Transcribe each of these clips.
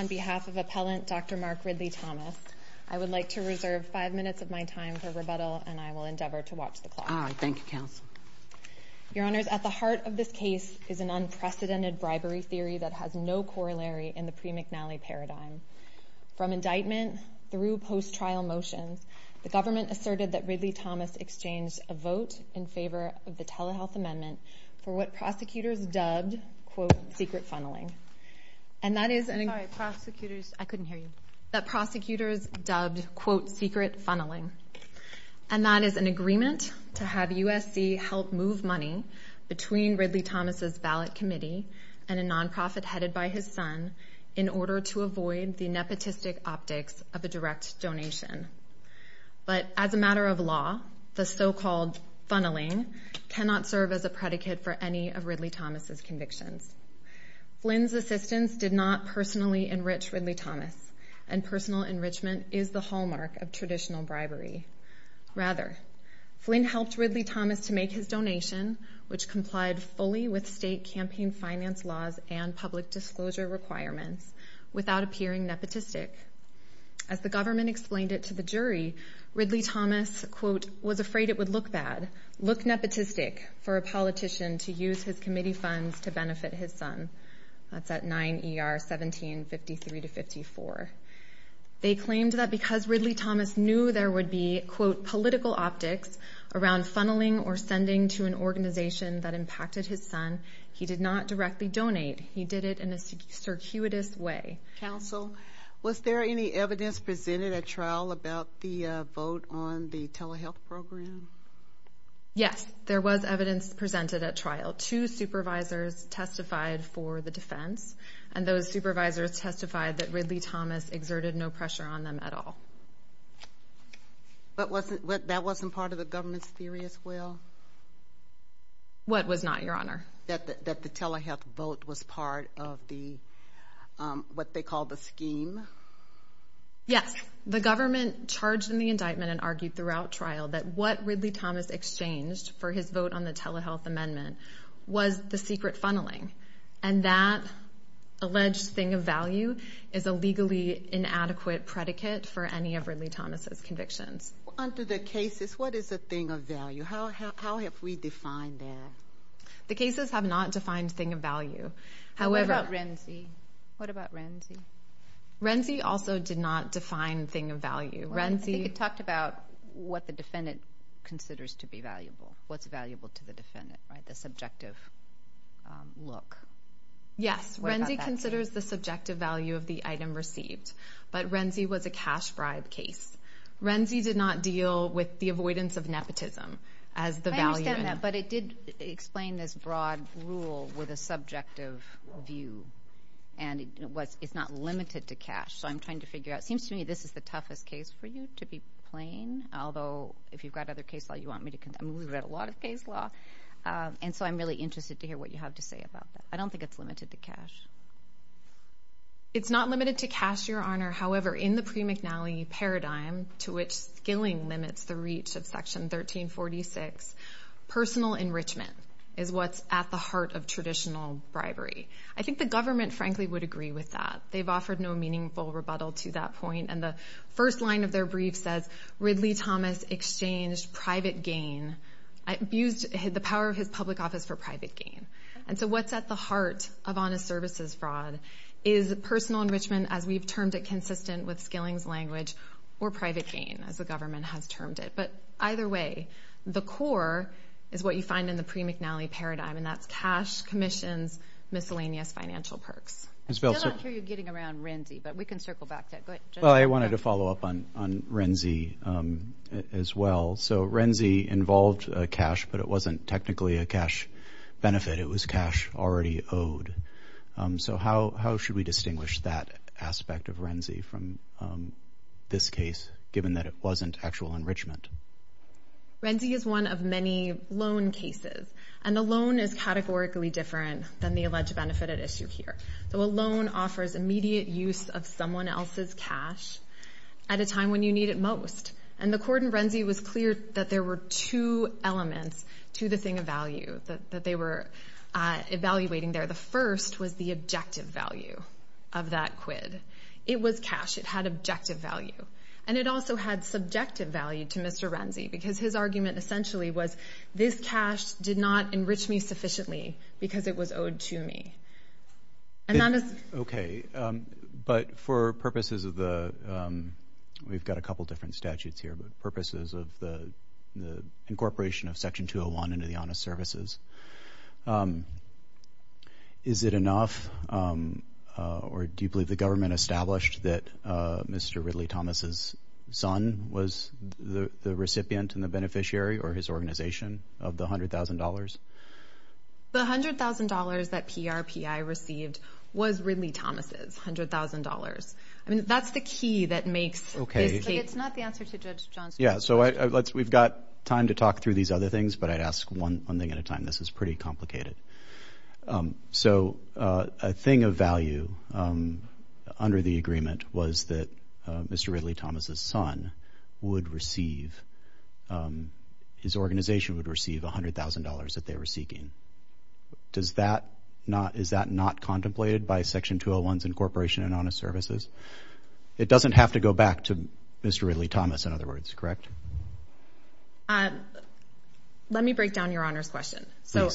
on behalf of appellant Dr. Mark Ridley-Thomas. I would like to reserve 5 minutes of my time for rebuttal and I will endeavor to watch the clock. All right. Thank you, Counsel. Your Honors, at the heart of this case is an unprecedented bribery theory that has no corollary in the pre-McNally paradigm. From indictment through post-trial motions, the appellant asserted that Ridley-Thomas exchanged a vote in favor of the telehealth amendment for what prosecutors dubbed, quote, secret funneling. And that is an agreement to have USC help move money between Ridley-Thomas' ballot committee and a non-profit headed by in order to avoid the nepotistic optics of a direct donation. But as a matter of law, the so-called funneling cannot serve as a predicate for any of Ridley-Thomas' convictions. Flynn's assistance did not personally enrich Ridley-Thomas and personal enrichment is the hallmark of traditional bribery. Rather, Flynn helped Ridley-Thomas to make his donation, which complied fully with state campaign finance laws and public disclosure requirements without appearing nepotistic. As the government explained it to the jury, Ridley-Thomas, quote, was afraid it would look bad, look nepotistic for a politician to use his committee funds to benefit his son. That's at 9 ER 1753 to 54. They claimed that because Ridley-Thomas knew there would be, quote, political optics around funneling or sending to an organization that impacted his son, he did not directly donate. He did it in a circuitous way. Counsel, was there any evidence presented at trial about the vote on the telehealth program? Yes, there was evidence presented at trial. Two supervisors testified for the defense and those supervisors testified that Ridley-Thomas exerted no pressure on them at all. But wasn't, that wasn't part of the government's theory as well? What was not, Your Honor? That the telehealth vote was part of the, what they call the scheme? Yes. The government charged in the indictment and argued throughout trial that what Ridley-Thomas exchanged for his vote on the telehealth amendment was the secret funneling. And that alleged thing of value is a legally inadequate predicate for any of Ridley-Thomas' convictions. Under the cases, what is a thing of value? How have we defined that? The cases have not defined thing of value. However... What about Renzi? What about Renzi? Renzi also did not define thing of value. Renzi... What's valuable to the defendant, right? The subjective look. Yes, Renzi considers the subjective value of the item received. But Renzi was a cash bribe case. Renzi did not deal with the avoidance of nepotism as the value... I understand that, but it did explain this broad rule with a subjective view. And it's not limited to cash. So I'm trying to figure out, it seems to me this is the toughest case for you, to be plain. Although, if you've got other case law, you want me to... I've read a lot of case law. And so I'm really interested to hear what you have to say about that. I don't think it's limited to cash. It's not limited to cash, Your Honor. However, in the pre-McNally paradigm, to which skilling limits the reach of Section 1346, personal enrichment is what's at the heart of traditional bribery. I think the government, frankly, would agree with that. They've offered no meaningful rebuttal to that point. And the first line of their brief says, Ridley Thomas exchanged private gain, abused the power of his public office for private gain. And so what's at the heart of honest services fraud is personal enrichment as we've termed it consistent with skilling's language, or private gain, as the government has termed it. But either way, the core is what you find in the pre-McNally paradigm, and that's cash commissions miscellaneous financial perks. I still don't hear you getting around RENZI, but we can circle back to it. Go ahead, Judge. Well, I wanted to follow up on RENZI as well. So RENZI involved cash, but it wasn't technically a cash benefit. It was cash already owed. So how should we distinguish that aspect of RENZI from this case, given that it wasn't actual enrichment? RENZI is one of many loan cases, and the loan is categorically different than the alleged benefit at issue here. So a loan offers immediate use of someone else's cash at a time when you need it most. And the court in RENZI was clear that there were two elements to the thing of value that they were evaluating there. The first was the objective value of that quid. It was cash. It had objective value. And it also had subjective value to Mr. RENZI, because his argument essentially was this cash did not enrich me sufficiently because it was owed to me. Okay. But for purposes of the, we've got a couple different statutes here, but purposes of the incorporation of Section 201 into the honest services, is it enough, or do you believe the government established that Mr. Ridley Thomas's son was the recipient and the beneficiary or his organization of the $100,000? The $100,000 that PRPI received was Ridley Thomas's $100,000. I mean, that's the key that makes this case. It's not the answer to Judge John's question. Yeah. So we've got time to talk through these other things, but I'd ask one thing at a time. This is pretty complicated. So a thing of value under the agreement was that Mr. Ridley seeking? Does that not, is that not contemplated by Section 201's incorporation in honest services? It doesn't have to go back to Mr. Ridley Thomas, in other words, correct? Let me break down Your Honor's question. So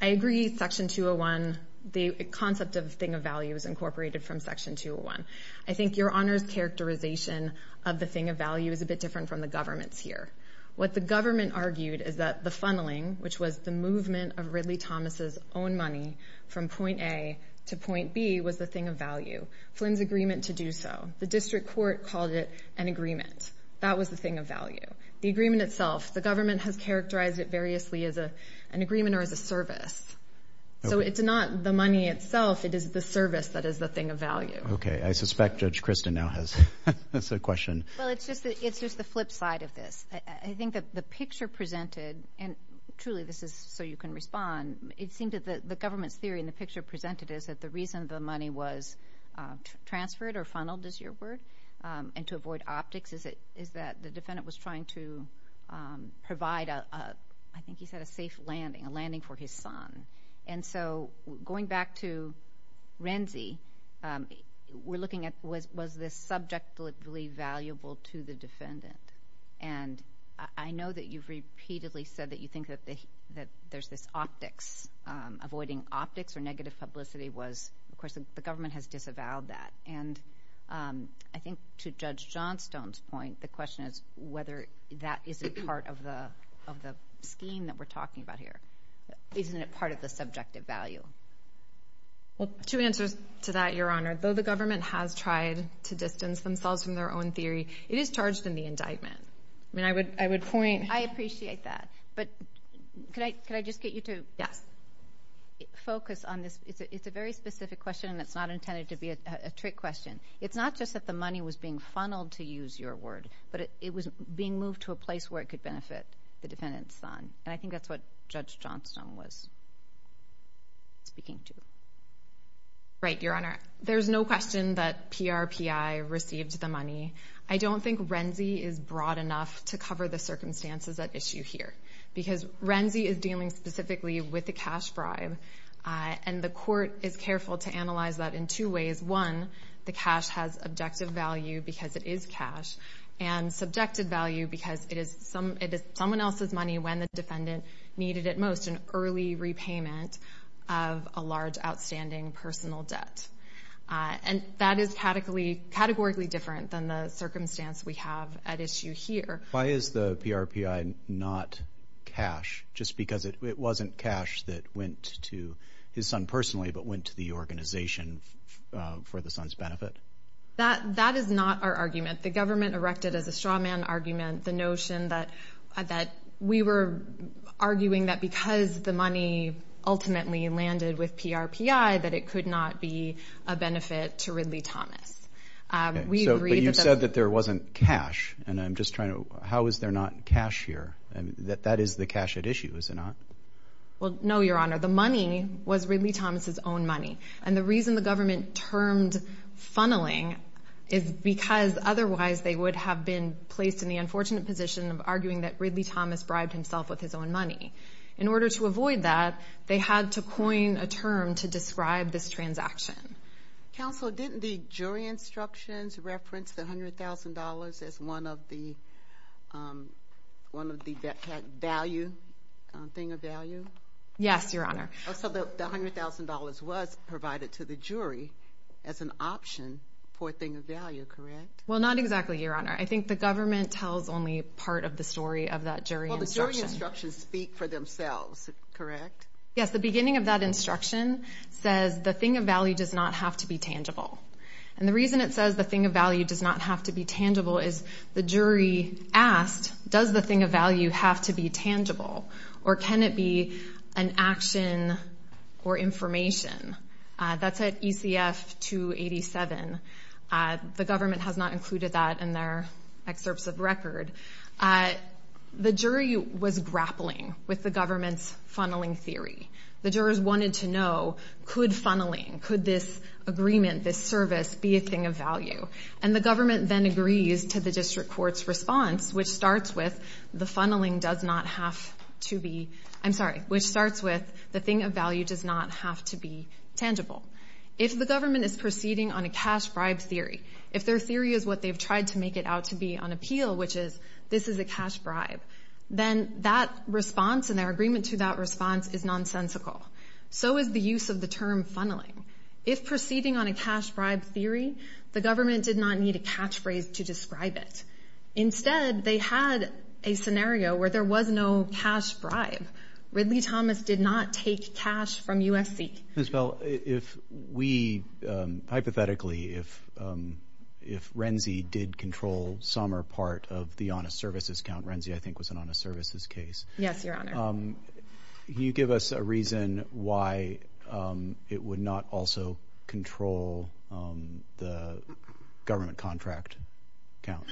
I agree, Section 201, the concept of thing of value is incorporated from Section 201. I think Your Honor's characterization of the thing of value is a bit different from the government's here. What the government argued is that the funneling, which was the movement of Ridley Thomas's own money from point A to point B, was the thing of value. Flynn's agreement to do so. The district court called it an agreement. That was the thing of value. The agreement itself, the government has characterized it variously as an agreement or as a service. So it's not the money itself, it is the service that is the thing of value. Okay. I suspect Judge Kristen now has a question. Well, it's just the flip side of this. I think that the picture presented, and truly this is so you can respond, it seemed that the government's theory in the picture presented is that the reason the money was transferred or funneled is your word, and to avoid optics, is that the defendant was trying to provide a, I think he said a safe landing, a landing for his son. And so going back to Renzi, we're looking at was this subjectively valuable to the defendant. And I know that you've repeatedly said that you think that there's this optics, avoiding optics or negative publicity was, of course, the government has disavowed that. And I think to Judge Johnstone's point, the question is whether that is a part of the scheme that we're talking about here. Isn't it part of the subjective value? Well, two answers to that, Your Honor. Though the government has tried to distance themselves from their own theory, it is charged in the indictment. I mean, I would point... I appreciate that. But could I just get you to focus on this? It's a very specific question and it's not intended to be a trick question. It's not just that the money was being funneled to use your word, but it was being moved to a place where it could benefit the defendant's son. And I think that's what Judge Johnstone was speaking to. Right, Your Honor. There's no question that PRPI received the money. I don't think Renzi is broad enough to cover the circumstances at issue here because Renzi is dealing specifically with the cash bribe. And the court is careful to analyze that in two ways. One, the cash has objective value because it is cash, and subjective value because it is someone else's money when the defendant needed it most, an early repayment of a large outstanding personal debt. And that is categorically different than the circumstance we have at issue here. Why is the PRPI not cash, just because it wasn't cash that went to his son personally but went to the organization for the son's benefit? That is not our argument. The government erected as a straw man argument the notion that we were arguing that because the money ultimately landed with PRPI that it could not be a benefit to Ridley Thomas. But you said that there wasn't cash, and I'm just trying to, how is there not cash here? That is the cash at issue, is it not? Well, no, Your Honor. The money was Ridley Thomas's own money. And the reason the government termed funneling is because otherwise they would have been placed in the unfortunate position of arguing that Ridley Thomas bribed himself with his own money. In order to avoid that, they had to coin a term to describe this transaction. Counsel, didn't the jury instructions reference the $100,000 as one of the value thing about the value? Yes, Your Honor. So the $100,000 was provided to the jury as an option for a thing of value, correct? Well not exactly, Your Honor. I think the government tells only part of the story of that jury instruction. Well, the jury instructions speak for themselves, correct? Yes, the beginning of that instruction says the thing of value does not have to be tangible. And the reason it says the thing of value does not have to be tangible is the jury asked, does the thing of value have to be tangible? Or can it be an action or information? That's at ECF 287. The government has not included that in their excerpts of record. The jury was grappling with the government's funneling theory. The jurors wanted to know, could funneling, could this agreement, this service, be a thing of value? And the government then agrees to the district court's response, which starts with the funneling does not have to be, I'm sorry, which starts with the thing of value does not have to be tangible. If the government is proceeding on a cash bribe theory, if their theory is what they've tried to make it out to be on appeal, which is this is a cash bribe, then that response and their agreement to that response is nonsensical. So is the use of the term funneling. If proceeding on a cash bribe theory, the government did not need a catchphrase to describe it. Instead, they had a scenario where there was no cash bribe. Ridley Thomas did not take cash from USC. Ms. Bell, if we, hypothetically, if Renzi did control some or part of the honest services count, Renzi I think was an honest services case. Yes, your honor. Can you give us a reason why it would not also control the government contract count?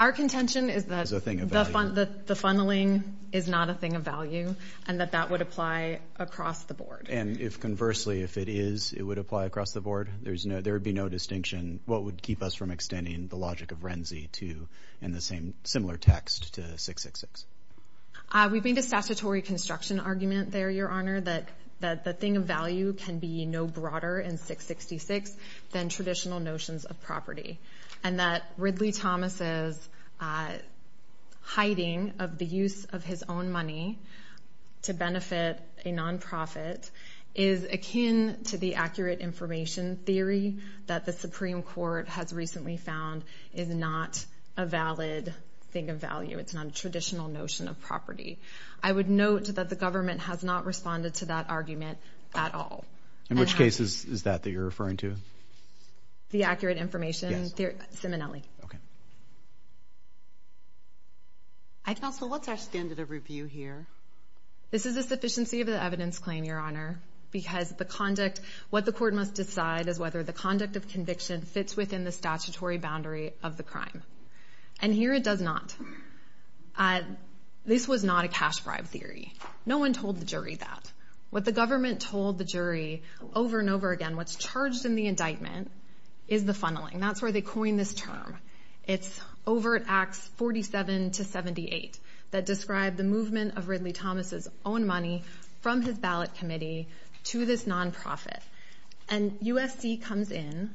Our contention is that the funneling is not a thing of value and that that would apply across the board. And if conversely, if it is, it would apply across the board? There would be no distinction what would keep us from extending the logic of Renzi to in the same similar text to 666? We've made a statutory construction argument there, your honor, that the thing of value can be no broader in 666 than traditional notions of property. And that Ridley Thomas's hiding of the use of his own money to benefit a non-profit is akin to the accurate information theory that the Supreme Court has recently found is not a valid thing of value. It's not a traditional notion of property. I would note that the government has not responded to that argument at all. In which case is that that you're referring to? The accurate information theory? Counsel, what's our standard of review here? This is a sufficiency of the evidence claim, your honor, because the conduct, what the court must decide is whether the conduct of conviction fits within the statutory boundary of the crime. And here it does not. This was not a cash bribe theory. No one told the jury that. What the government told the jury over and over again, what's charged in the indictment is the funneling. That's where they coined this term. It's over at Acts 47 to 78 that describe the movement of Ridley Thomas's own money from his ballot committee to this non-profit. And USC comes in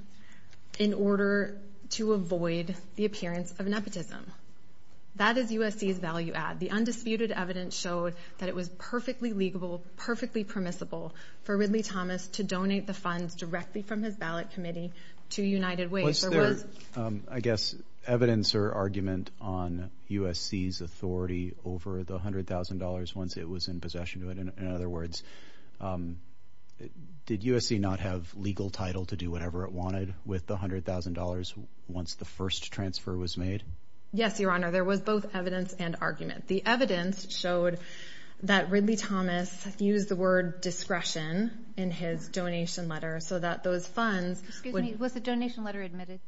in order to avoid the appearance of nepotism. That is USC's value add. The undisputed evidence showed that it was perfectly legable, perfectly permissible for Ridley Thomas to donate the funds directly from his ballot committee to United Way. Was there, I guess, evidence or argument on USC's authority over the $100,000 once it was in possession of it? In other words, did USC not have legal title to do whatever it wanted with the $100,000 once the first transfer was made? Yes, your honor. There was both evidence and argument. The evidence showed that Ridley Thomas used the word discretion in his donation letter so that those funds... Excuse me. Was the donation letter admitted?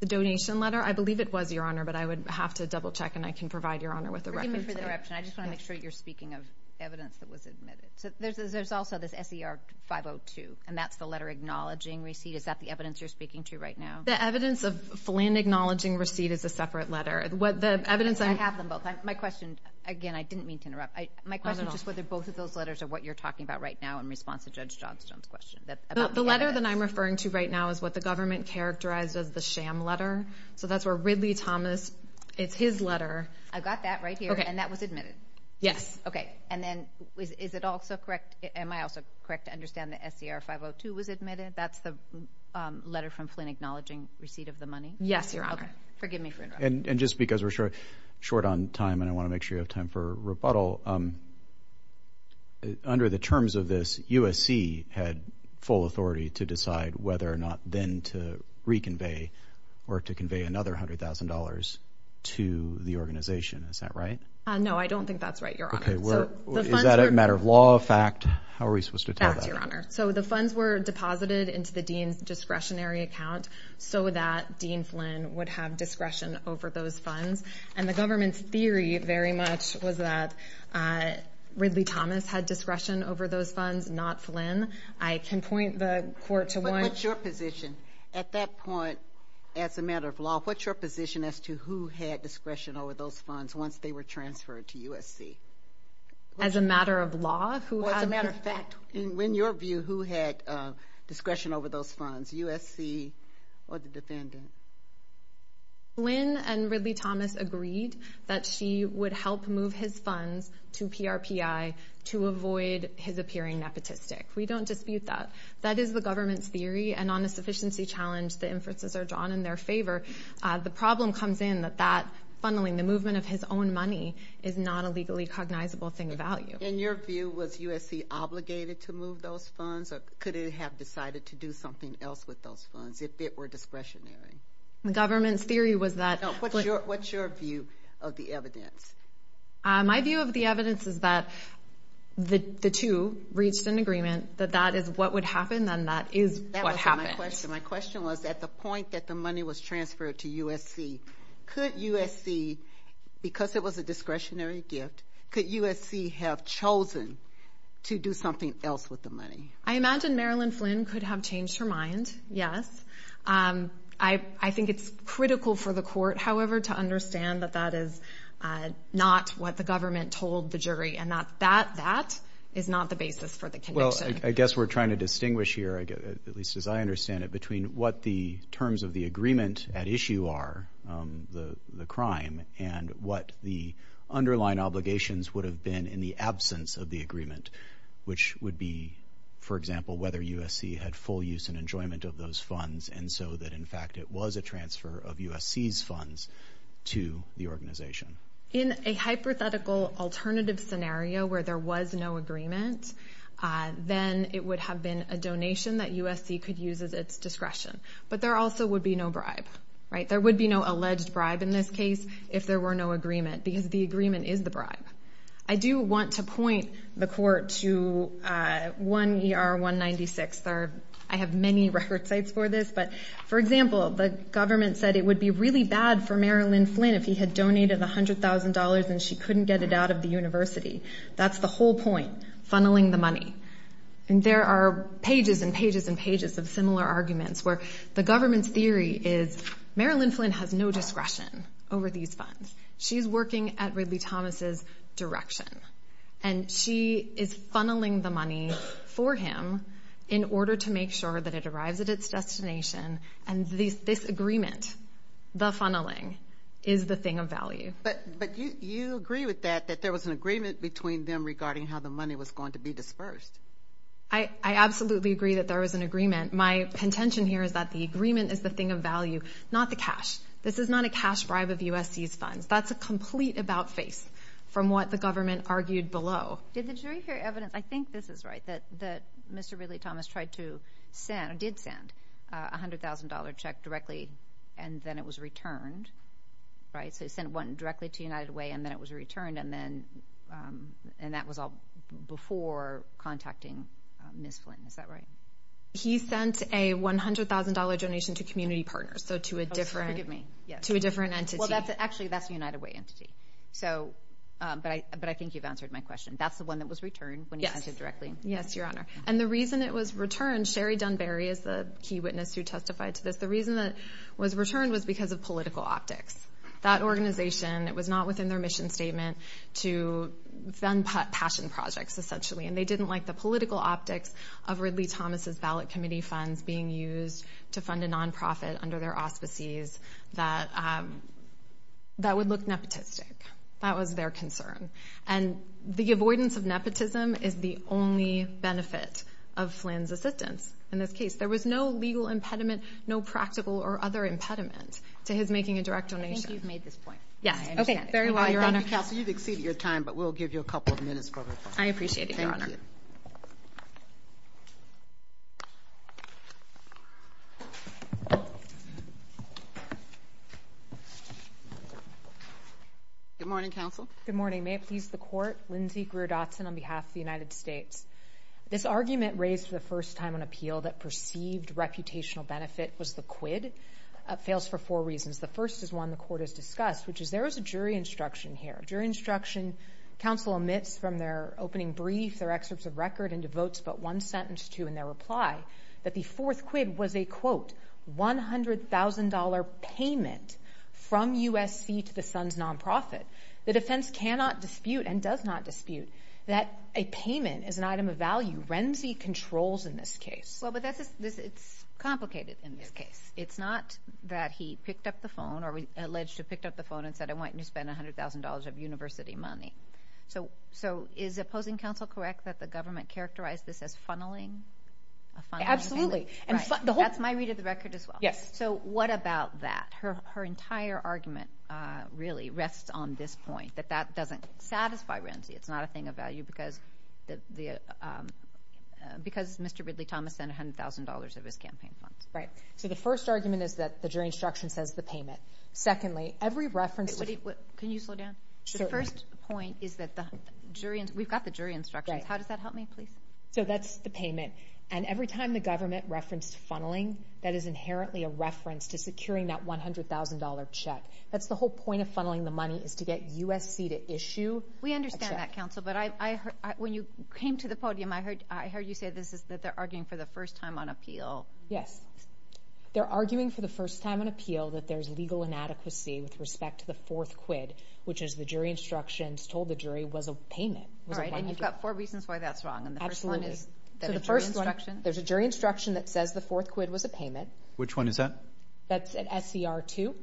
The donation letter? I believe it was, your honor, but I would have to double check and I can provide your honor with a record. I just want to make sure you're speaking of evidence that was admitted. So there's also this SER 502 and that's the letter acknowledging receipt. Is that the evidence you're speaking to right now? The evidence of Flynn acknowledging receipt is a separate letter. I have them both. My question, again, I didn't mean to interrupt. My question is just whether both of those letters are what you're talking about right now in response to Judge Johnstone's question. The letter that I'm referring to right now is what the government characterized as the sham letter. So that's where Ridley Thomas, it's his letter. I've got that right here and that was admitted? Okay. And then is it also correct, am I also correct to understand the SER 502 was admitted? That's the letter from Flynn acknowledging receipt of the money? Yes, your honor. Forgive me for interrupting. And just because we're short on time and I want to make sure you have time for rebuttal, under the terms of this, USC had full authority to decide whether or not then to reconvey or to convey another $100,000 to the organization. Is that right? No, I don't think that's right, your honor. Okay. Is that a matter of law, fact? How are we supposed to tell that? Fact, your honor. So the funds were deposited into the dean's discretionary account so that Dean Flynn would have discretion over those funds. And the government's theory very much was that Ridley Thomas had discretion over those funds, not Flynn. I can point the court to one- Your position at that point, as a matter of law, what's your position as to who had discretion over those funds once they were transferred to USC? As a matter of law, who had- As a matter of fact, in your view, who had discretion over those funds, USC or the defendant? Flynn and Ridley Thomas agreed that she would help move his funds to PRPI to avoid his appearing nepotistic. We don't dispute that. That is the government's theory, and on a sufficiency challenge the inferences are drawn in their favor. The problem comes in that that funneling, the movement of his own money, is not a legally cognizable thing of value. In your view, was USC obligated to move those funds, or could it have decided to do something else with those funds if it were discretionary? The government's theory was that- What's your view of the evidence? My view of the evidence is that the two reached an agreement, that that is what would happen, and that is what happened. My question was, at the point that the money was transferred to USC, could USC, because it was a discretionary gift, could USC have chosen to do something else with the money? I imagine Marilyn Flynn could have changed her mind, yes. I think it's critical for the court, however, to understand that that is not what the government told the jury, and that that is not the basis for the conviction. Well, I guess we're trying to distinguish here, at least as I understand it, between what the terms of the agreement at issue are, the crime, and what the underlying obligations would have been in the absence of the agreement, which would be, for example, whether USC had full use and enjoyment of those funds, and so that, in fact, it was a transfer of USC's funds to the organization. In a hypothetical alternative scenario where there was no agreement, then it would have been a donation that USC could use as its discretion, but there also would be no bribe. There would be no alleged bribe in this case if there were no agreement, because the agreement is the bribe. I do want to point the court to 1 ER 196. I have many record sites for this, but for example, the government said it would be really bad for Marilyn Flynn if he had donated $100,000 and she couldn't get it out of the university. That's the whole point, funneling the money. There are pages and pages and pages of similar arguments where the government's theory is Marilyn Flynn has no discretion over these funds. She's working at Ridley Thomas' direction, and she is funneling the money for him in order to make sure that it arrives at its destination, and this agreement, the funneling, is the thing of value. But you agree with that, that there was an agreement between them regarding how the money was going to be dispersed. I absolutely agree that there was an agreement. My contention here is that the agreement is the thing of value, not the cash. This is not a cash bribe of USC's funds. That's a complete about-face from what the government argued below. Did the jury hear evidence, I think this is right, that Mr. Ridley Thomas did send a $100,000 check directly and then it was returned, right? So he sent one directly to United Way and then it was returned, and that was all before contacting Ms. Flynn. Is that right? He sent a $100,000 donation to community partners, so to a different entity. Well, actually, that's a United Way entity, but I think you've answered my question. That's the one that was returned when he sent it directly. Yes, Your Honor. And the reason it was returned, Sherry Dunbarry is the key witness who testified to this. The reason it was returned was because of political optics. That organization was not within their mission statement to fund passion projects, essentially, and they didn't like the political optics of Ridley Thomas's ballot committee funds being used to fund a non-profit under their auspices. That would look nepotistic. That was their concern. And the avoidance of nepotism is the only benefit of Flynn's assistance in this case. There was no legal impediment, no practical or other impediment to his making a direct donation. I think you've made this point. Yes, I understand it. Okay, very well, Your Honor. Thank you, Kelsey. You've exceeded your time, but we'll give you a couple of minutes for your testimony. I appreciate it, Your Honor. Thank you. Good morning, Counsel. Good morning. May it please the Court? Lindsey Greer Dotson on behalf of the United States. This argument raised for the first time on appeal that perceived reputational benefit was the quid fails for four reasons. The first is one the Court has discussed, which is there was a jury instruction here. Jury instruction, counsel omits from their opening brief, their excerpts of record, and devotes but one sentence to in their reply, that the fourth quid was a, quote, $100,000 payment from USC to the Sun's non-profit. The defense cannot dispute and does not dispute that a payment is an item of value. Renzi controls in this case. Well, but that's, it's complicated in this case. It's not that he picked up the phone or alleged to have picked up the phone and said, I want you to spend $100,000 of university money. So, so is opposing counsel correct that the government characterized this as funneling? A funneling of payment? Absolutely. Right. That's my read of the record as well. Yes. So what about that? Her, her entire argument really rests on this point, that that doesn't satisfy Renzi. It's not a thing of value because the, because Mr. Ridley Thomas spent $100,000 of his campaign funds. Right. So the first argument is that the jury instruction says the payment. Secondly, every reference to... Can you slow down? Sure. The first point is that the jury, we've got the jury instructions. Right. How does that help me, please? So that's the payment. And every time the government referenced funneling, that is inherently a reference to securing that $100,000 check. That's the whole point of funneling the money is to get USC to issue a check. We understand that, counsel, but I, I heard, when you came to the podium, I heard, I heard you say this is that they're arguing for the first time on appeal. Yes. They're arguing for the first time on appeal that there's legal inadequacy with respect to the fourth quid, which is the jury instructions told the jury was a payment. All right. And you've got four reasons why that's wrong. And the first one is that a jury instruction... So the first one, there's a jury instruction that says the fourth quid was a payment. Which one is that? That's at SCR2. Okay.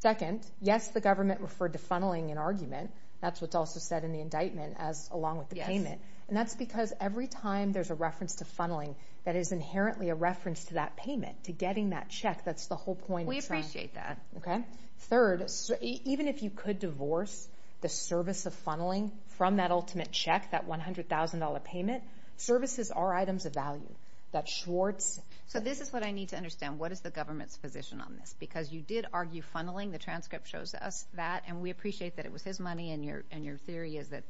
Second, yes, the government referred to funneling in argument. That's what's also said in the indictment as along with the payment. And that's because every time there's a reference to funneling, that is inherently a reference to that payment, to getting that check. That's the whole point of trying... We appreciate that. Okay. Third, even if you could divorce the service of funneling from that ultimate check, that $100,000 payment, services are items of value. That Schwartz... So this is what I need to understand. What is the government's position on this? Because you did argue funneling. The transcript shows us that, and we appreciate that it was his money and your, and your theory is that...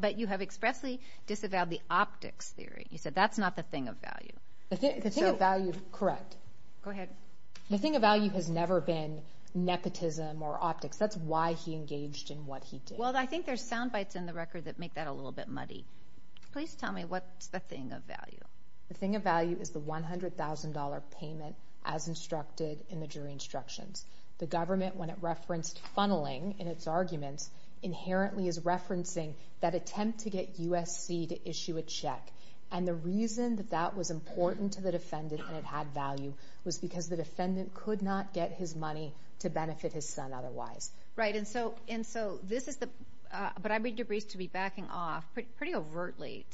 But you have expressly disavowed the optics theory. You said that's not the thing of value. The thing of value... Correct. Go ahead. The thing of value has never been nepotism or optics. That's why he engaged in what he did. Well, I think there's sound bites in the record that make that a little bit muddy. Please tell me what's the thing of value. The thing of value is the $100,000 payment as instructed in the jury instructions. The government, when it referenced funneling in its arguments, inherently is referencing that attempt to get USC to issue a check. And the reason that that was important to the defendant and it had value was because the defendant could not get his money to benefit his son otherwise. Right. And so this is the... But I read your briefs to be backing off pretty overtly.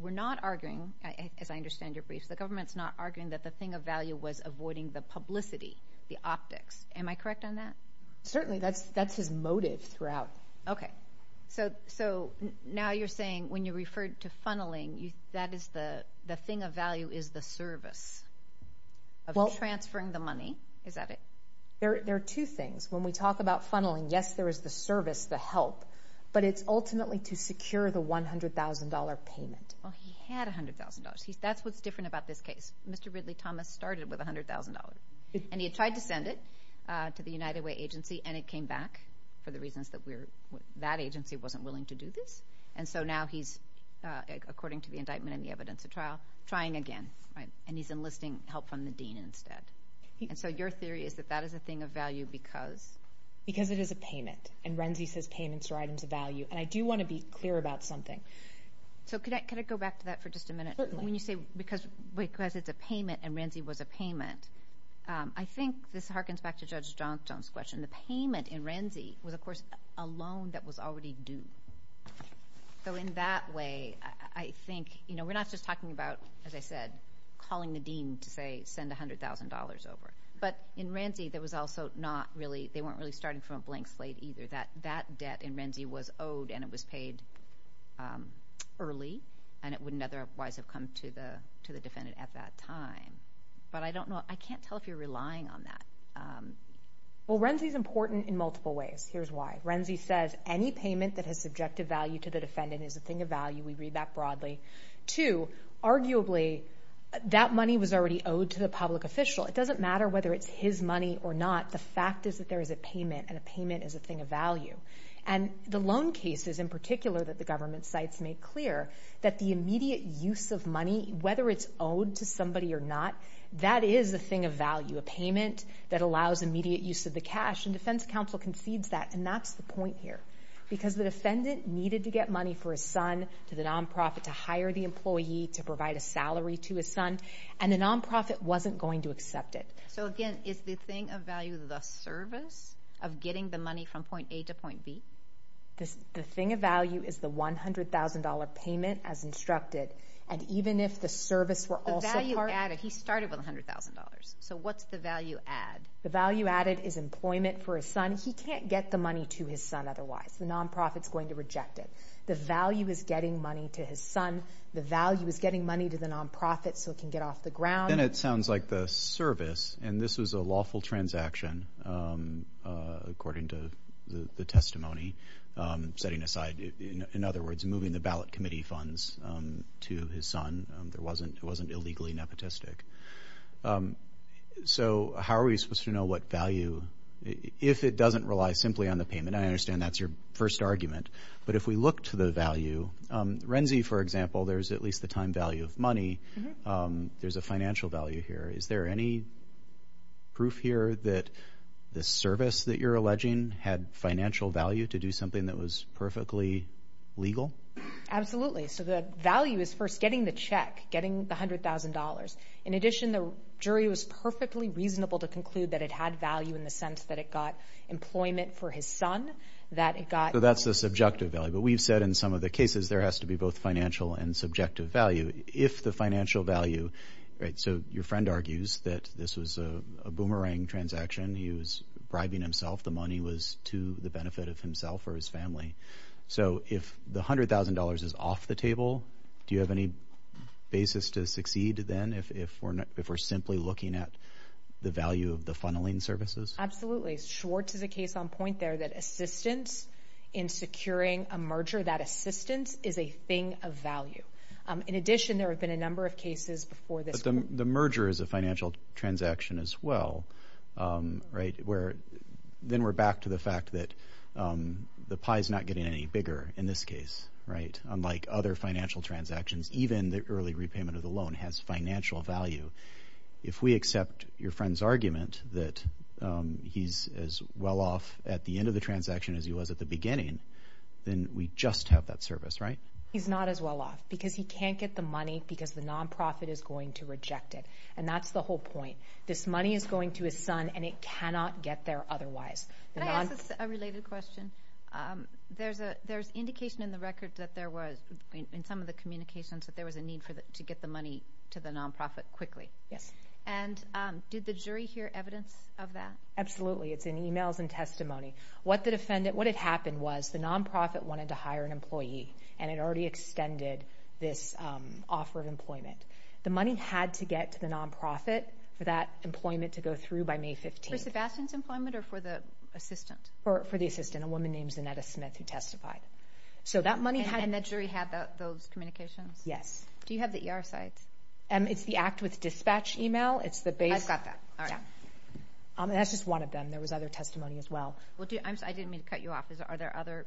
We're not arguing, as I understand your briefs, the government's not arguing that the thing of value was avoiding the publicity, the optics. Am I correct on that? Certainly. That's his motive throughout. Okay. So now you're saying when you referred to funneling, that is the thing of value is the service of transferring the money. Is that it? There are two things. When we talk about funneling, yes, there is the service, the help, but it's ultimately to secure the $100,000 payment. Well, he had $100,000. That's what's different about this case. Mr. Ridley Thomas started with $100,000, and he had tried to send it to the United Way agency, and it came back for the reasons that that agency wasn't willing to do this. And so now he's, according to the indictment and the evidence of trial, trying again, right? And he's enlisting help from the dean instead. And so your theory is that that is a thing of value because? Because it is a payment, and Renzi says payments are items of value. And I do want to be clear about something. So could I go back to that for just a minute? When you say because it's a payment, and Renzi was a payment, I think this harkens back to Judge Johnstone's question. The payment in Renzi was, of course, a loan that was already due. So in that way, I think, you know, we're not just talking about, as I said, calling the dean to say send $100,000 over. But in Renzi, there was also not really – they weren't really starting from a blank slate either. That debt in Renzi was owed and it was paid early, and it wouldn't otherwise have come to the defendant at that time. But I don't know. I can't tell if you're relying on that. Well, Renzi's important in multiple ways. Here's why. Renzi says any payment that has subjective value to the defendant is a thing of value. We read that broadly. Two, arguably, that money was already owed to the public official. It doesn't matter whether it's his money or not. The fact is that there is a payment, and a payment is a thing of value. And the loan cases in particular that the government cites make clear that the immediate use of money, whether it's owed to somebody or not, that is a thing of value. A payment that allows immediate use of the cash, and defense counsel concedes that, and that's the point here. Because the defendant needed to get money for his son, to the nonprofit, to hire the employee, to provide a salary to his son, and the nonprofit wasn't going to accept it. So again, is the thing of value the service of getting the money from point A to point B? The thing of value is the $100,000 payment as instructed, and even if the service were also part of... The value added. He started with $100,000. So what's the value add? The value added is employment for his son. He can't get the money to his son otherwise. The nonprofit's going to reject it. The value is getting money to his son. The value is getting money to the nonprofit so it can get off the ground. Then it sounds like the service, and this was a lawful transaction according to the testimony, setting aside, in other words, moving the ballot committee funds to his son. It wasn't illegally nepotistic. So how are we supposed to know what value, if it doesn't rely simply on the payment? I understand that's your first argument, but if we look to the value, Renzi, for example, there's at least the time value of money. There's a financial value here. Is there any proof here that the service that you're alleging had financial value to do something that was perfectly legal? Absolutely. So the value is first getting the check, getting the $100,000. In addition, the jury was perfectly reasonable to conclude that it had value in the sense that it got employment for his son, that it got... So that's the subjective value. But we've said in some of the cases there has to be both financial and subjective value. If the financial value, right, so your friend argues that this was a boomerang transaction. He was bribing himself. The money was to the benefit of himself or his family. So if the $100,000 is off the table, do you have any basis to succeed then if we're simply looking at the value of the funneling services? Absolutely. Schwartz is a case on point there that assistance in securing a merger, that assistance is a thing of value. In addition, there have been a number of cases before this... The merger is a financial transaction as well, right? Then we're back to the fact that the pie is not getting any bigger in this case, right? Unlike other financial transactions, even the early repayment of the loan has financial value. If we accept your friend's argument that he's as well off at the end of the transaction as he was at the beginning, then we just have that service, right? He's not as well off because he can't get the money because the non-profit is going to reject it. And that's the whole point. This money is going to his son and it cannot get there otherwise. Can I ask a related question? There's indication in the record that there was, in some of the communications, that there was a need to get the money to the non-profit quickly. Did the jury hear evidence of that? Absolutely. It's in emails and testimony. What it happened was the non-profit wanted to hire an employee and it already extended this offer of employment. The money had to get to the non-profit for that employment to go through by May 15th. For Sebastian's employment or for the assistant? For the assistant, a woman named Zanetta Smith who testified. So that money had... And the jury had those communications? Yes. Do you have the ER sites? It's the Act with Dispatch email. I've got that. That's just one of them. There was other testimony as well. I didn't mean to cut you off. Are there other...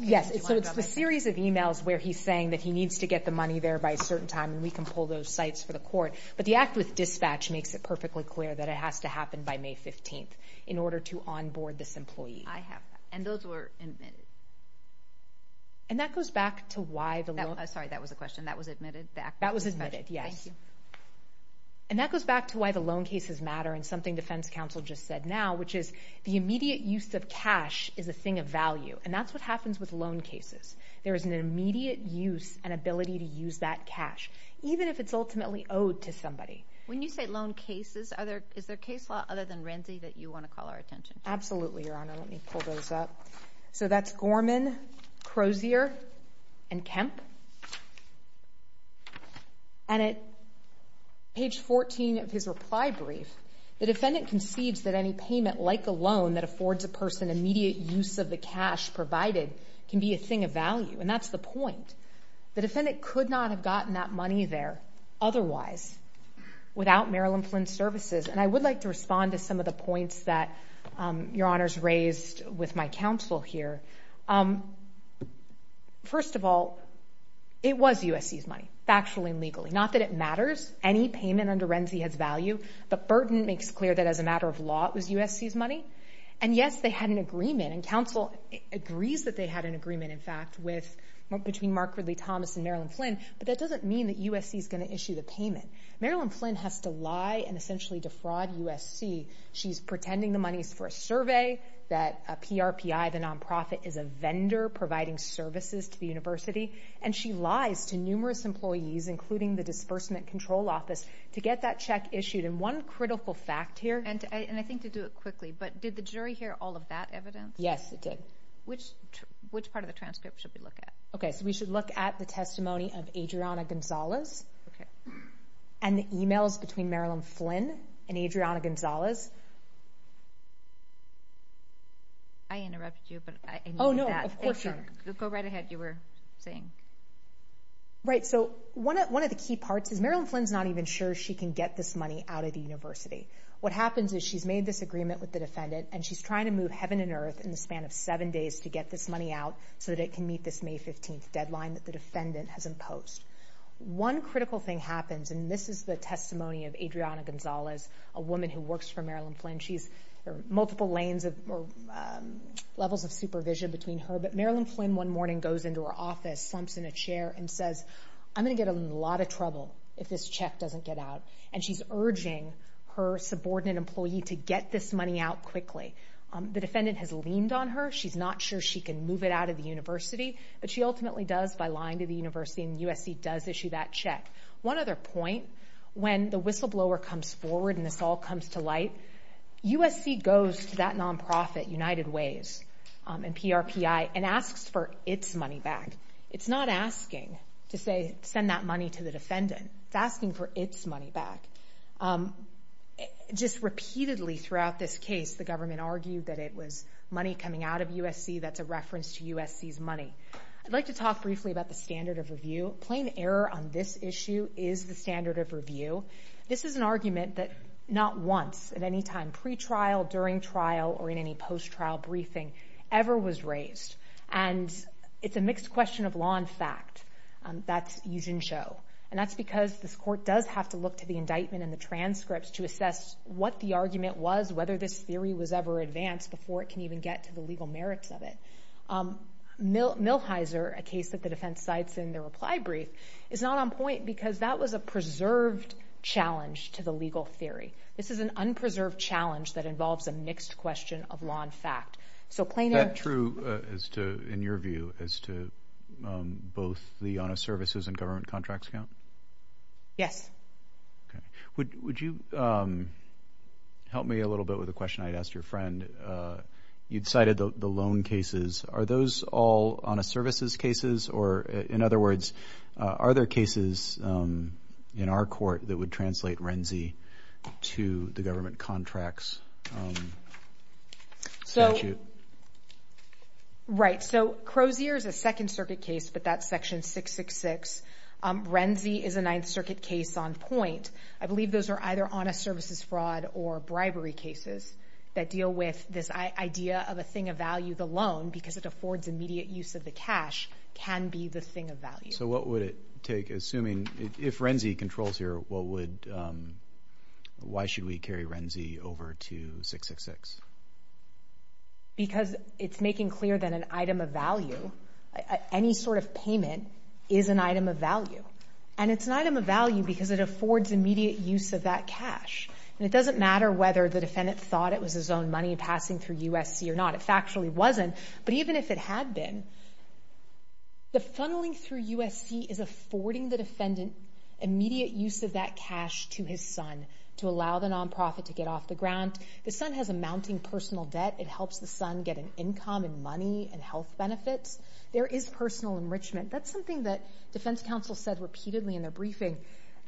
Yes. It's the series of emails where he's saying that he needs to get the money there by a certain time and we can pull those sites for the court. But the Act with Dispatch makes it perfectly clear that it has to happen by May 15th in order to onboard this employee. I have that. And those were admitted. And that goes back to why the loan... Sorry, that was a question. That was admitted? That was admitted, yes. Thank you. And that goes back to why the loan cases matter and something Defense Counsel just said now, which is the immediate use of cash is a thing of value. And that's what happens with loan cases. There is an immediate use and ability to use that cash, even if it's ultimately owed to somebody. When you say loan cases, is there case law other than Renzi that you want to call our attention to? Absolutely, Your Honor. Let me pull those up. So that's Gorman, Crozier, and Kemp. And at page 14 of his reply brief, the defendant concedes that any payment like a loan that affords a person immediate use of the cash provided can be a thing of value. And that's the point. The defendant could not have gotten that money there otherwise without Maryland Flint Services. And I would like to respond to some of the points that Your Honor's raised with my counsel here. First of all, it was USC's money, factually and legally. Not that it matters. Any payment under Renzi has value, but Burton makes clear that as a matter of law, it was USC's money. And yes, they had an agreement, and counsel agrees that they had an agreement, in fact, between Mark Ridley Thomas and Maryland Flint, but that doesn't mean that USC's going to issue the payment. Maryland Flint has to lie and essentially defraud USC. She's pretending the money's for a survey, that PRPI, the nonprofit, is a vendor providing services to the university, and she lies to numerous employees, including the Disbursement Control Office, to get that check issued. And one critical fact here... And I think to do it quickly, but did the jury hear all of that evidence? Yes, it did. Which part of the transcript should we look at? Okay, so we should look at the testimony of Adriana Gonzalez. Okay. And the emails between Maryland Flint and Adriana Gonzalez. I interrupted you, but I needed that. Oh, no, of course you did. Go right ahead, you were saying. Right, so one of the key parts is Maryland Flint's not even sure she can get this money out of the university. What happens is she's made this agreement with the defendant, and she's trying to move heaven and earth in the span of seven days to get this money out so that it can meet this May 15th deadline that the defendant has imposed. One critical thing happens, and this is the testimony of Adriana Gonzalez, a woman who works for Maryland Flint. There are multiple levels of supervision between her, but Maryland Flint one morning goes into her office, slumps in a chair, and says, I'm going to get in a lot of trouble if this check doesn't get out. And she's urging her subordinate employee to get this money out quickly. The defendant has leaned on her. She's not sure she can move it out of the university, but she ultimately does by lying to the university, and USC does issue that check. One other point, when the whistleblower comes forward and this all comes to light, USC goes to that nonprofit, United Ways, and PRPI, and asks for its money back. It's not asking to send that money to the defendant. It's asking for its money back. Just repeatedly throughout this case, the government argued that it was money coming out of USC that's a reference to USC's money. I'd like to talk briefly about the standard of review. Plain error on this issue is the standard of review. This is an argument that not once at any time, pre-trial, during trial, or in any post-trial briefing, ever was raised. And it's a mixed question of law and fact. That's yi jin shou. And that's because this court does have to look to the indictment and the transcripts to assess what the argument was, whether this theory was ever advanced before it can even get to the legal merits of it. Millhiser, a case that the defense cites in their reply brief, is not on point because that was a preserved challenge to the legal theory. This is an unpreserved challenge that involves a mixed question of law and fact. So plain error... Is that true, in your view, as to both the honest services and government contracts count? Yes. Would you help me a little bit with a question I had asked your friend? You'd cited the loan cases. Are those all honest services cases? Or, in other words, are there cases in our court that would translate Renzi to the government contracts statute? Right, so Crozier is a Second Circuit case, but that's Section 666. Renzi is a Ninth Circuit case on point. I believe those are either honest services fraud or bribery cases that deal with this idea of a thing of value, the loan, because it affords immediate use of the cash, can be the thing of value. So what would it take, assuming... If Renzi controls here, why should we carry Renzi over to 666? Because it's making clear that an item of value, any sort of payment, is an item of value. And it's an item of value because it affords immediate use of that cash. And it doesn't matter whether the defendant thought it was his own money passing through USC or not. It factually wasn't. But even if it had been, the funneling through USC is affording the defendant immediate use of that cash to his son to allow the nonprofit to get off the ground. The son has a mounting personal debt. It helps the son get an income and money and health benefits. There is personal enrichment. That's something that defense counsel said repeatedly in their briefing.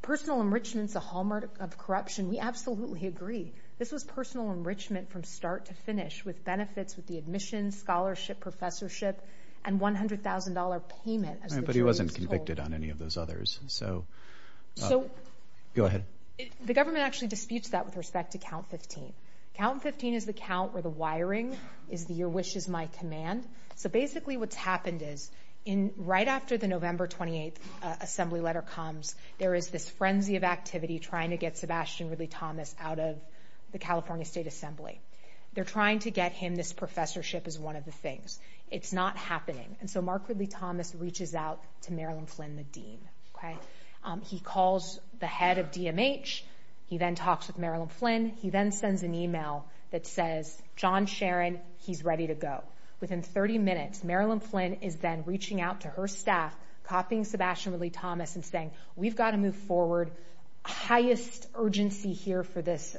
Personal enrichment's a hallmark of corruption. We absolutely agree. This was personal enrichment from start to finish with benefits, with the admissions, scholarship, professorship, and $100,000 payment. But he wasn't convicted on any of those others. So... The government actually disputes that with respect to Count 15. Count 15 is the count where the wiring is the your-wishes-my-command. So basically what's happened is right after the November 28th assembly letter comes, there is this frenzy of activity trying to get Sebastian Ridley-Thomas out of the California State Assembly. They're trying to get him this professorship as one of the things. It's not happening. And so Mark Ridley-Thomas reaches out to Marilyn Flynn, the dean. He calls the head of DMH. He then talks with Marilyn Flynn. He then sends an email that says, John Sharon, he's ready to go. Within 30 minutes, Marilyn Flynn is then reaching out to her staff, copying Sebastian Ridley-Thomas, and saying, we've got to move forward. Highest urgency here for this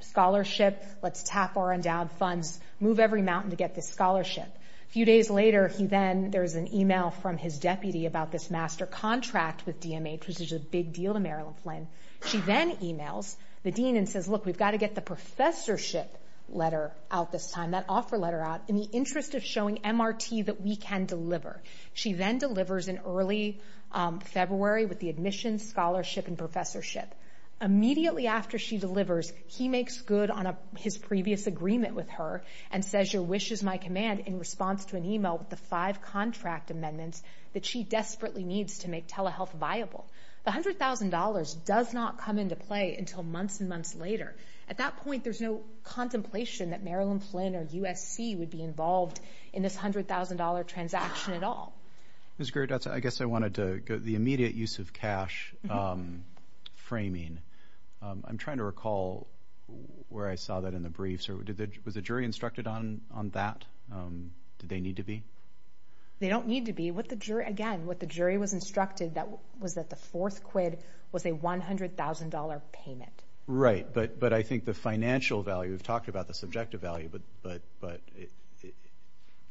scholarship. Let's tap our endowed funds. Move every mountain to get this scholarship. A few days later, he then... There's an email from his deputy about this master contract with DMH, which is a big deal to Marilyn Flynn. She then emails the dean and says, look, we've got to get the professorship letter out this time, that offer letter out, in the interest of showing MRT that we can deliver. She then delivers in early February with the admissions, scholarship, and professorship. Immediately after she delivers, he makes good on his previous agreement with her and says, your wish is my command in response to an email with the five contract amendments that she desperately needs to make telehealth viable. The $100,000 does not come into play until months and months later. At that point, there's no contemplation that Marilyn Flynn or USC would be involved in this $100,000 transaction at all. I guess I wanted to go to the immediate use of cash framing. I'm trying to recall where I saw that in the briefs. Was the jury instructed on that? Did they need to be? They don't need to be. Again, what the jury was instructed was that the fourth quid was a $100,000 payment. Right, but I think the financial value, we've talked about the subjective value,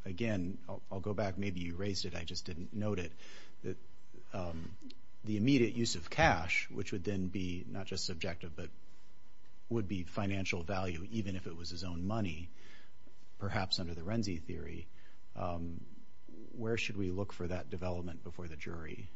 again, I'll go back. Maybe you raised it, I just didn't note it. The immediate use of cash, which would then be not just subjective, but would be financial value even if it was his own money, perhaps under the Renzi theory, where should we look for that development before the jury?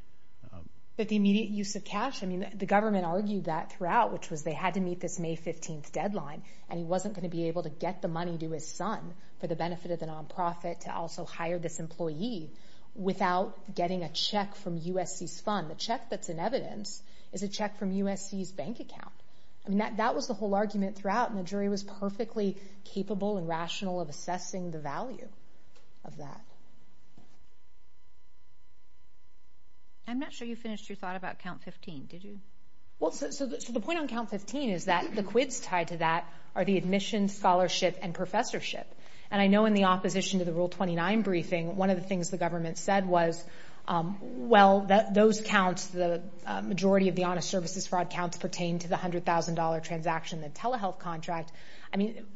But the immediate use of cash, the government argued that throughout, which was they had to meet this May 15th deadline and he wasn't going to be able to get the money to his son for the benefit of the non-profit to also hire this employee without getting a check from USC's fund. The check that's in evidence is a check from USC's bank account. That was the whole argument throughout and the jury was perfectly capable and rational of assessing the value of that. I'm not sure you finished your thought about count 15, did you? The point on count 15 is that the quids tied to that are the admissions, scholarship, and professorship. I know in the opposition to the Rule 29 briefing, one of the things the government said was well, those counts, the majority of the honest services fraud counts pertain to the $100,000 transaction in the telehealth contract.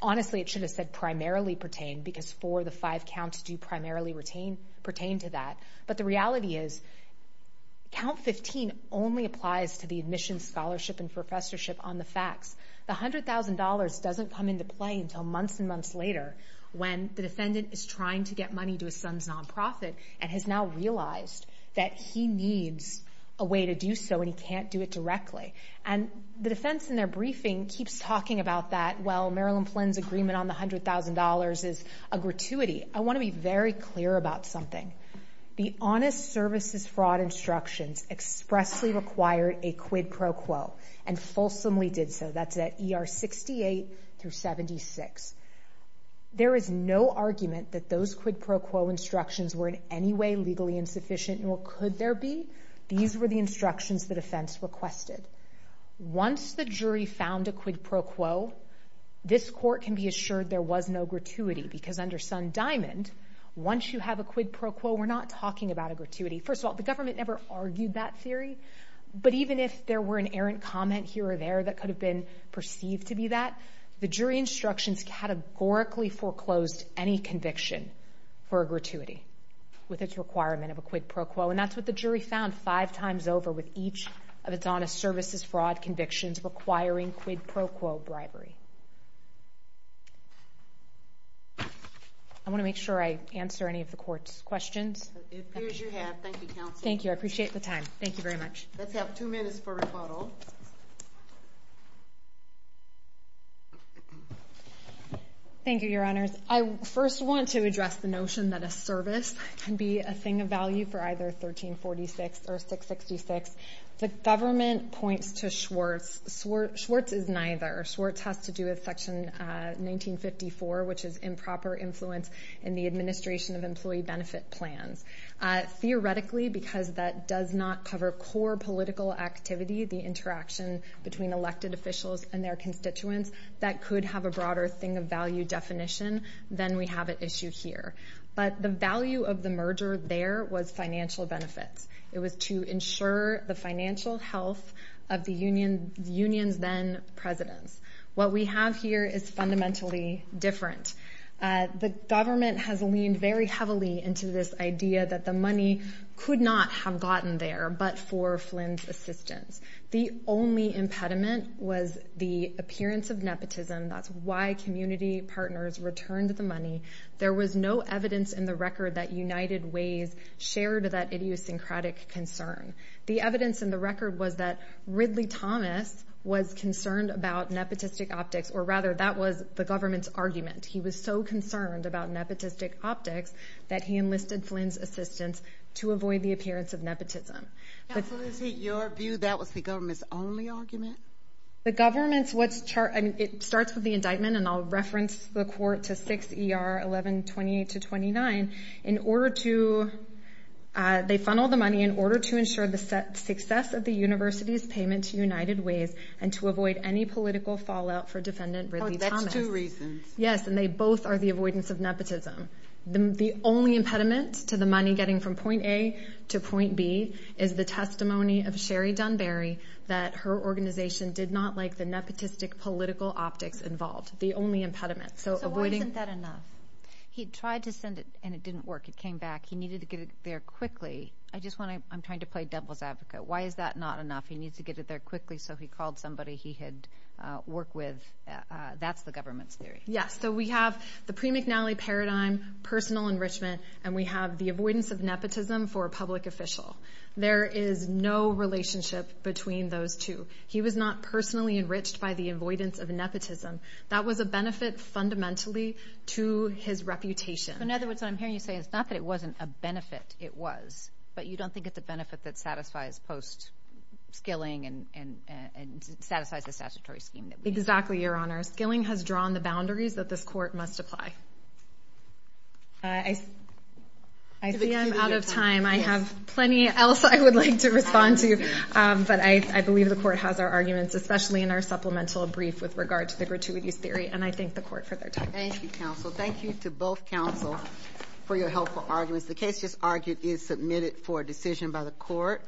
Honestly, it should have said primarily pertain because four of the five counts do primarily pertain to that. But the reality is count 15 only applies to the admissions, scholarship, and professorship on the facts. The $100,000 doesn't come into play until months and months later when the defendant is trying to get money to his son's non-profit and has now realized that he needs a way to do so and he can't do it directly. And the defense in their briefing keeps talking about that well, Marilyn Flynn's agreement on the $100,000 is a gratuity. I want to be very clear about something. The honest services fraud instructions expressly required a quid pro quo and fulsomely did so. That's at ER 68 through 76. There is no argument that those quid pro quo instructions were in any way legally insufficient nor could there be. These were the instructions the defense requested. Once the jury found a quid pro quo, this court can be assured there was no gratuity because under Sun Diamond, once you have a quid pro quo, we're not talking about a gratuity. First of all, the government never argued that theory, but even if there were an errant comment here or there that could have been perceived to be that, the jury instructions categorically foreclosed any conviction for a gratuity with its requirement of a quid pro quo. And that's what the jury found five times over with each of the honest services fraud convictions requiring quid pro quo bribery. I want to make sure I answer any of the court's questions. It appears you have. Thank you, Counsel. Thank you. I appreciate the time. Thank you very much. Let's have two minutes for rebuttal. Thank you, Your Honors. I first want to address the notion that a service can be a thing of value for either 1346 or 666. The government points to Schwartz. Schwartz is neither. Schwartz has to do with 1954, which is improper influence in the administration of employee benefit plans. Theoretically, because that does not cover core political activity, the interaction between elected officials and their constituents, that could have a broader thing of value definition than we have at issue here. But the value of the merger there was financial benefits. It was to ensure the financial health of the union's then presidents. What we have here is fundamentally different. The government has leaned very heavily into this idea that the money could not have gotten there but for Flynn's assistance. The only impediment was the appearance of nepotism. That's why community partners returned the money. There was no evidence in the record that United Ways shared that idiosyncratic concern. The evidence in the record was that Ridley Thomas was concerned about nepotistic optics, or rather that was the government's argument. He was so concerned about nepotistic optics that he enlisted Flynn's assistance to avoid the appearance of nepotism. Now, Felicity, your view that was the government's only argument? The government's, what's chart, it starts with the indictment, and I'll reference the court to 6 ER 1128-29. In order to, they funneled the money in order to ensure the success of the university's payment to United Ways and to avoid any political fallout for defendant Ridley Thomas. Yes, and they both are the avoidance of nepotism. The only impediment to the money getting from point A to point B is the testimony of Sherry Dunbarry that her organization did not like the nepotistic political optics involved. The only impediment. So why isn't that enough? He tried to send it and it didn't work. It came back. He needed to get it there quickly. I just want to, I'm trying to play devil's advocate. Why is that not enough? He needs to get it there quickly so he called somebody he had worked with. That's the government's theory. Yes, so we have the pre-McNally paradigm, personal enrichment, and we have the avoidance of nepotism for a public official. There is no relationship between those two. He was not personally enriched by the avoidance of nepotism. That was a benefit fundamentally to his reputation. So in other words, what I'm hearing you say is not that it wasn't a benefit. It was. But you don't think it's a benefit that satisfies post-skilling and satisfies the statutory scheme. Exactly, your honor. Skilling has drawn the boundaries that this court must apply. I see I'm out of time. I have plenty else I would like to respond to. But I believe the court has our arguments, especially in our supplemental brief with regard to the gratuities theory, and I thank the court for their time. Thank you, counsel. Thank you to both counsel for your helpful arguments. The case just argued is submitted for a decision by the court.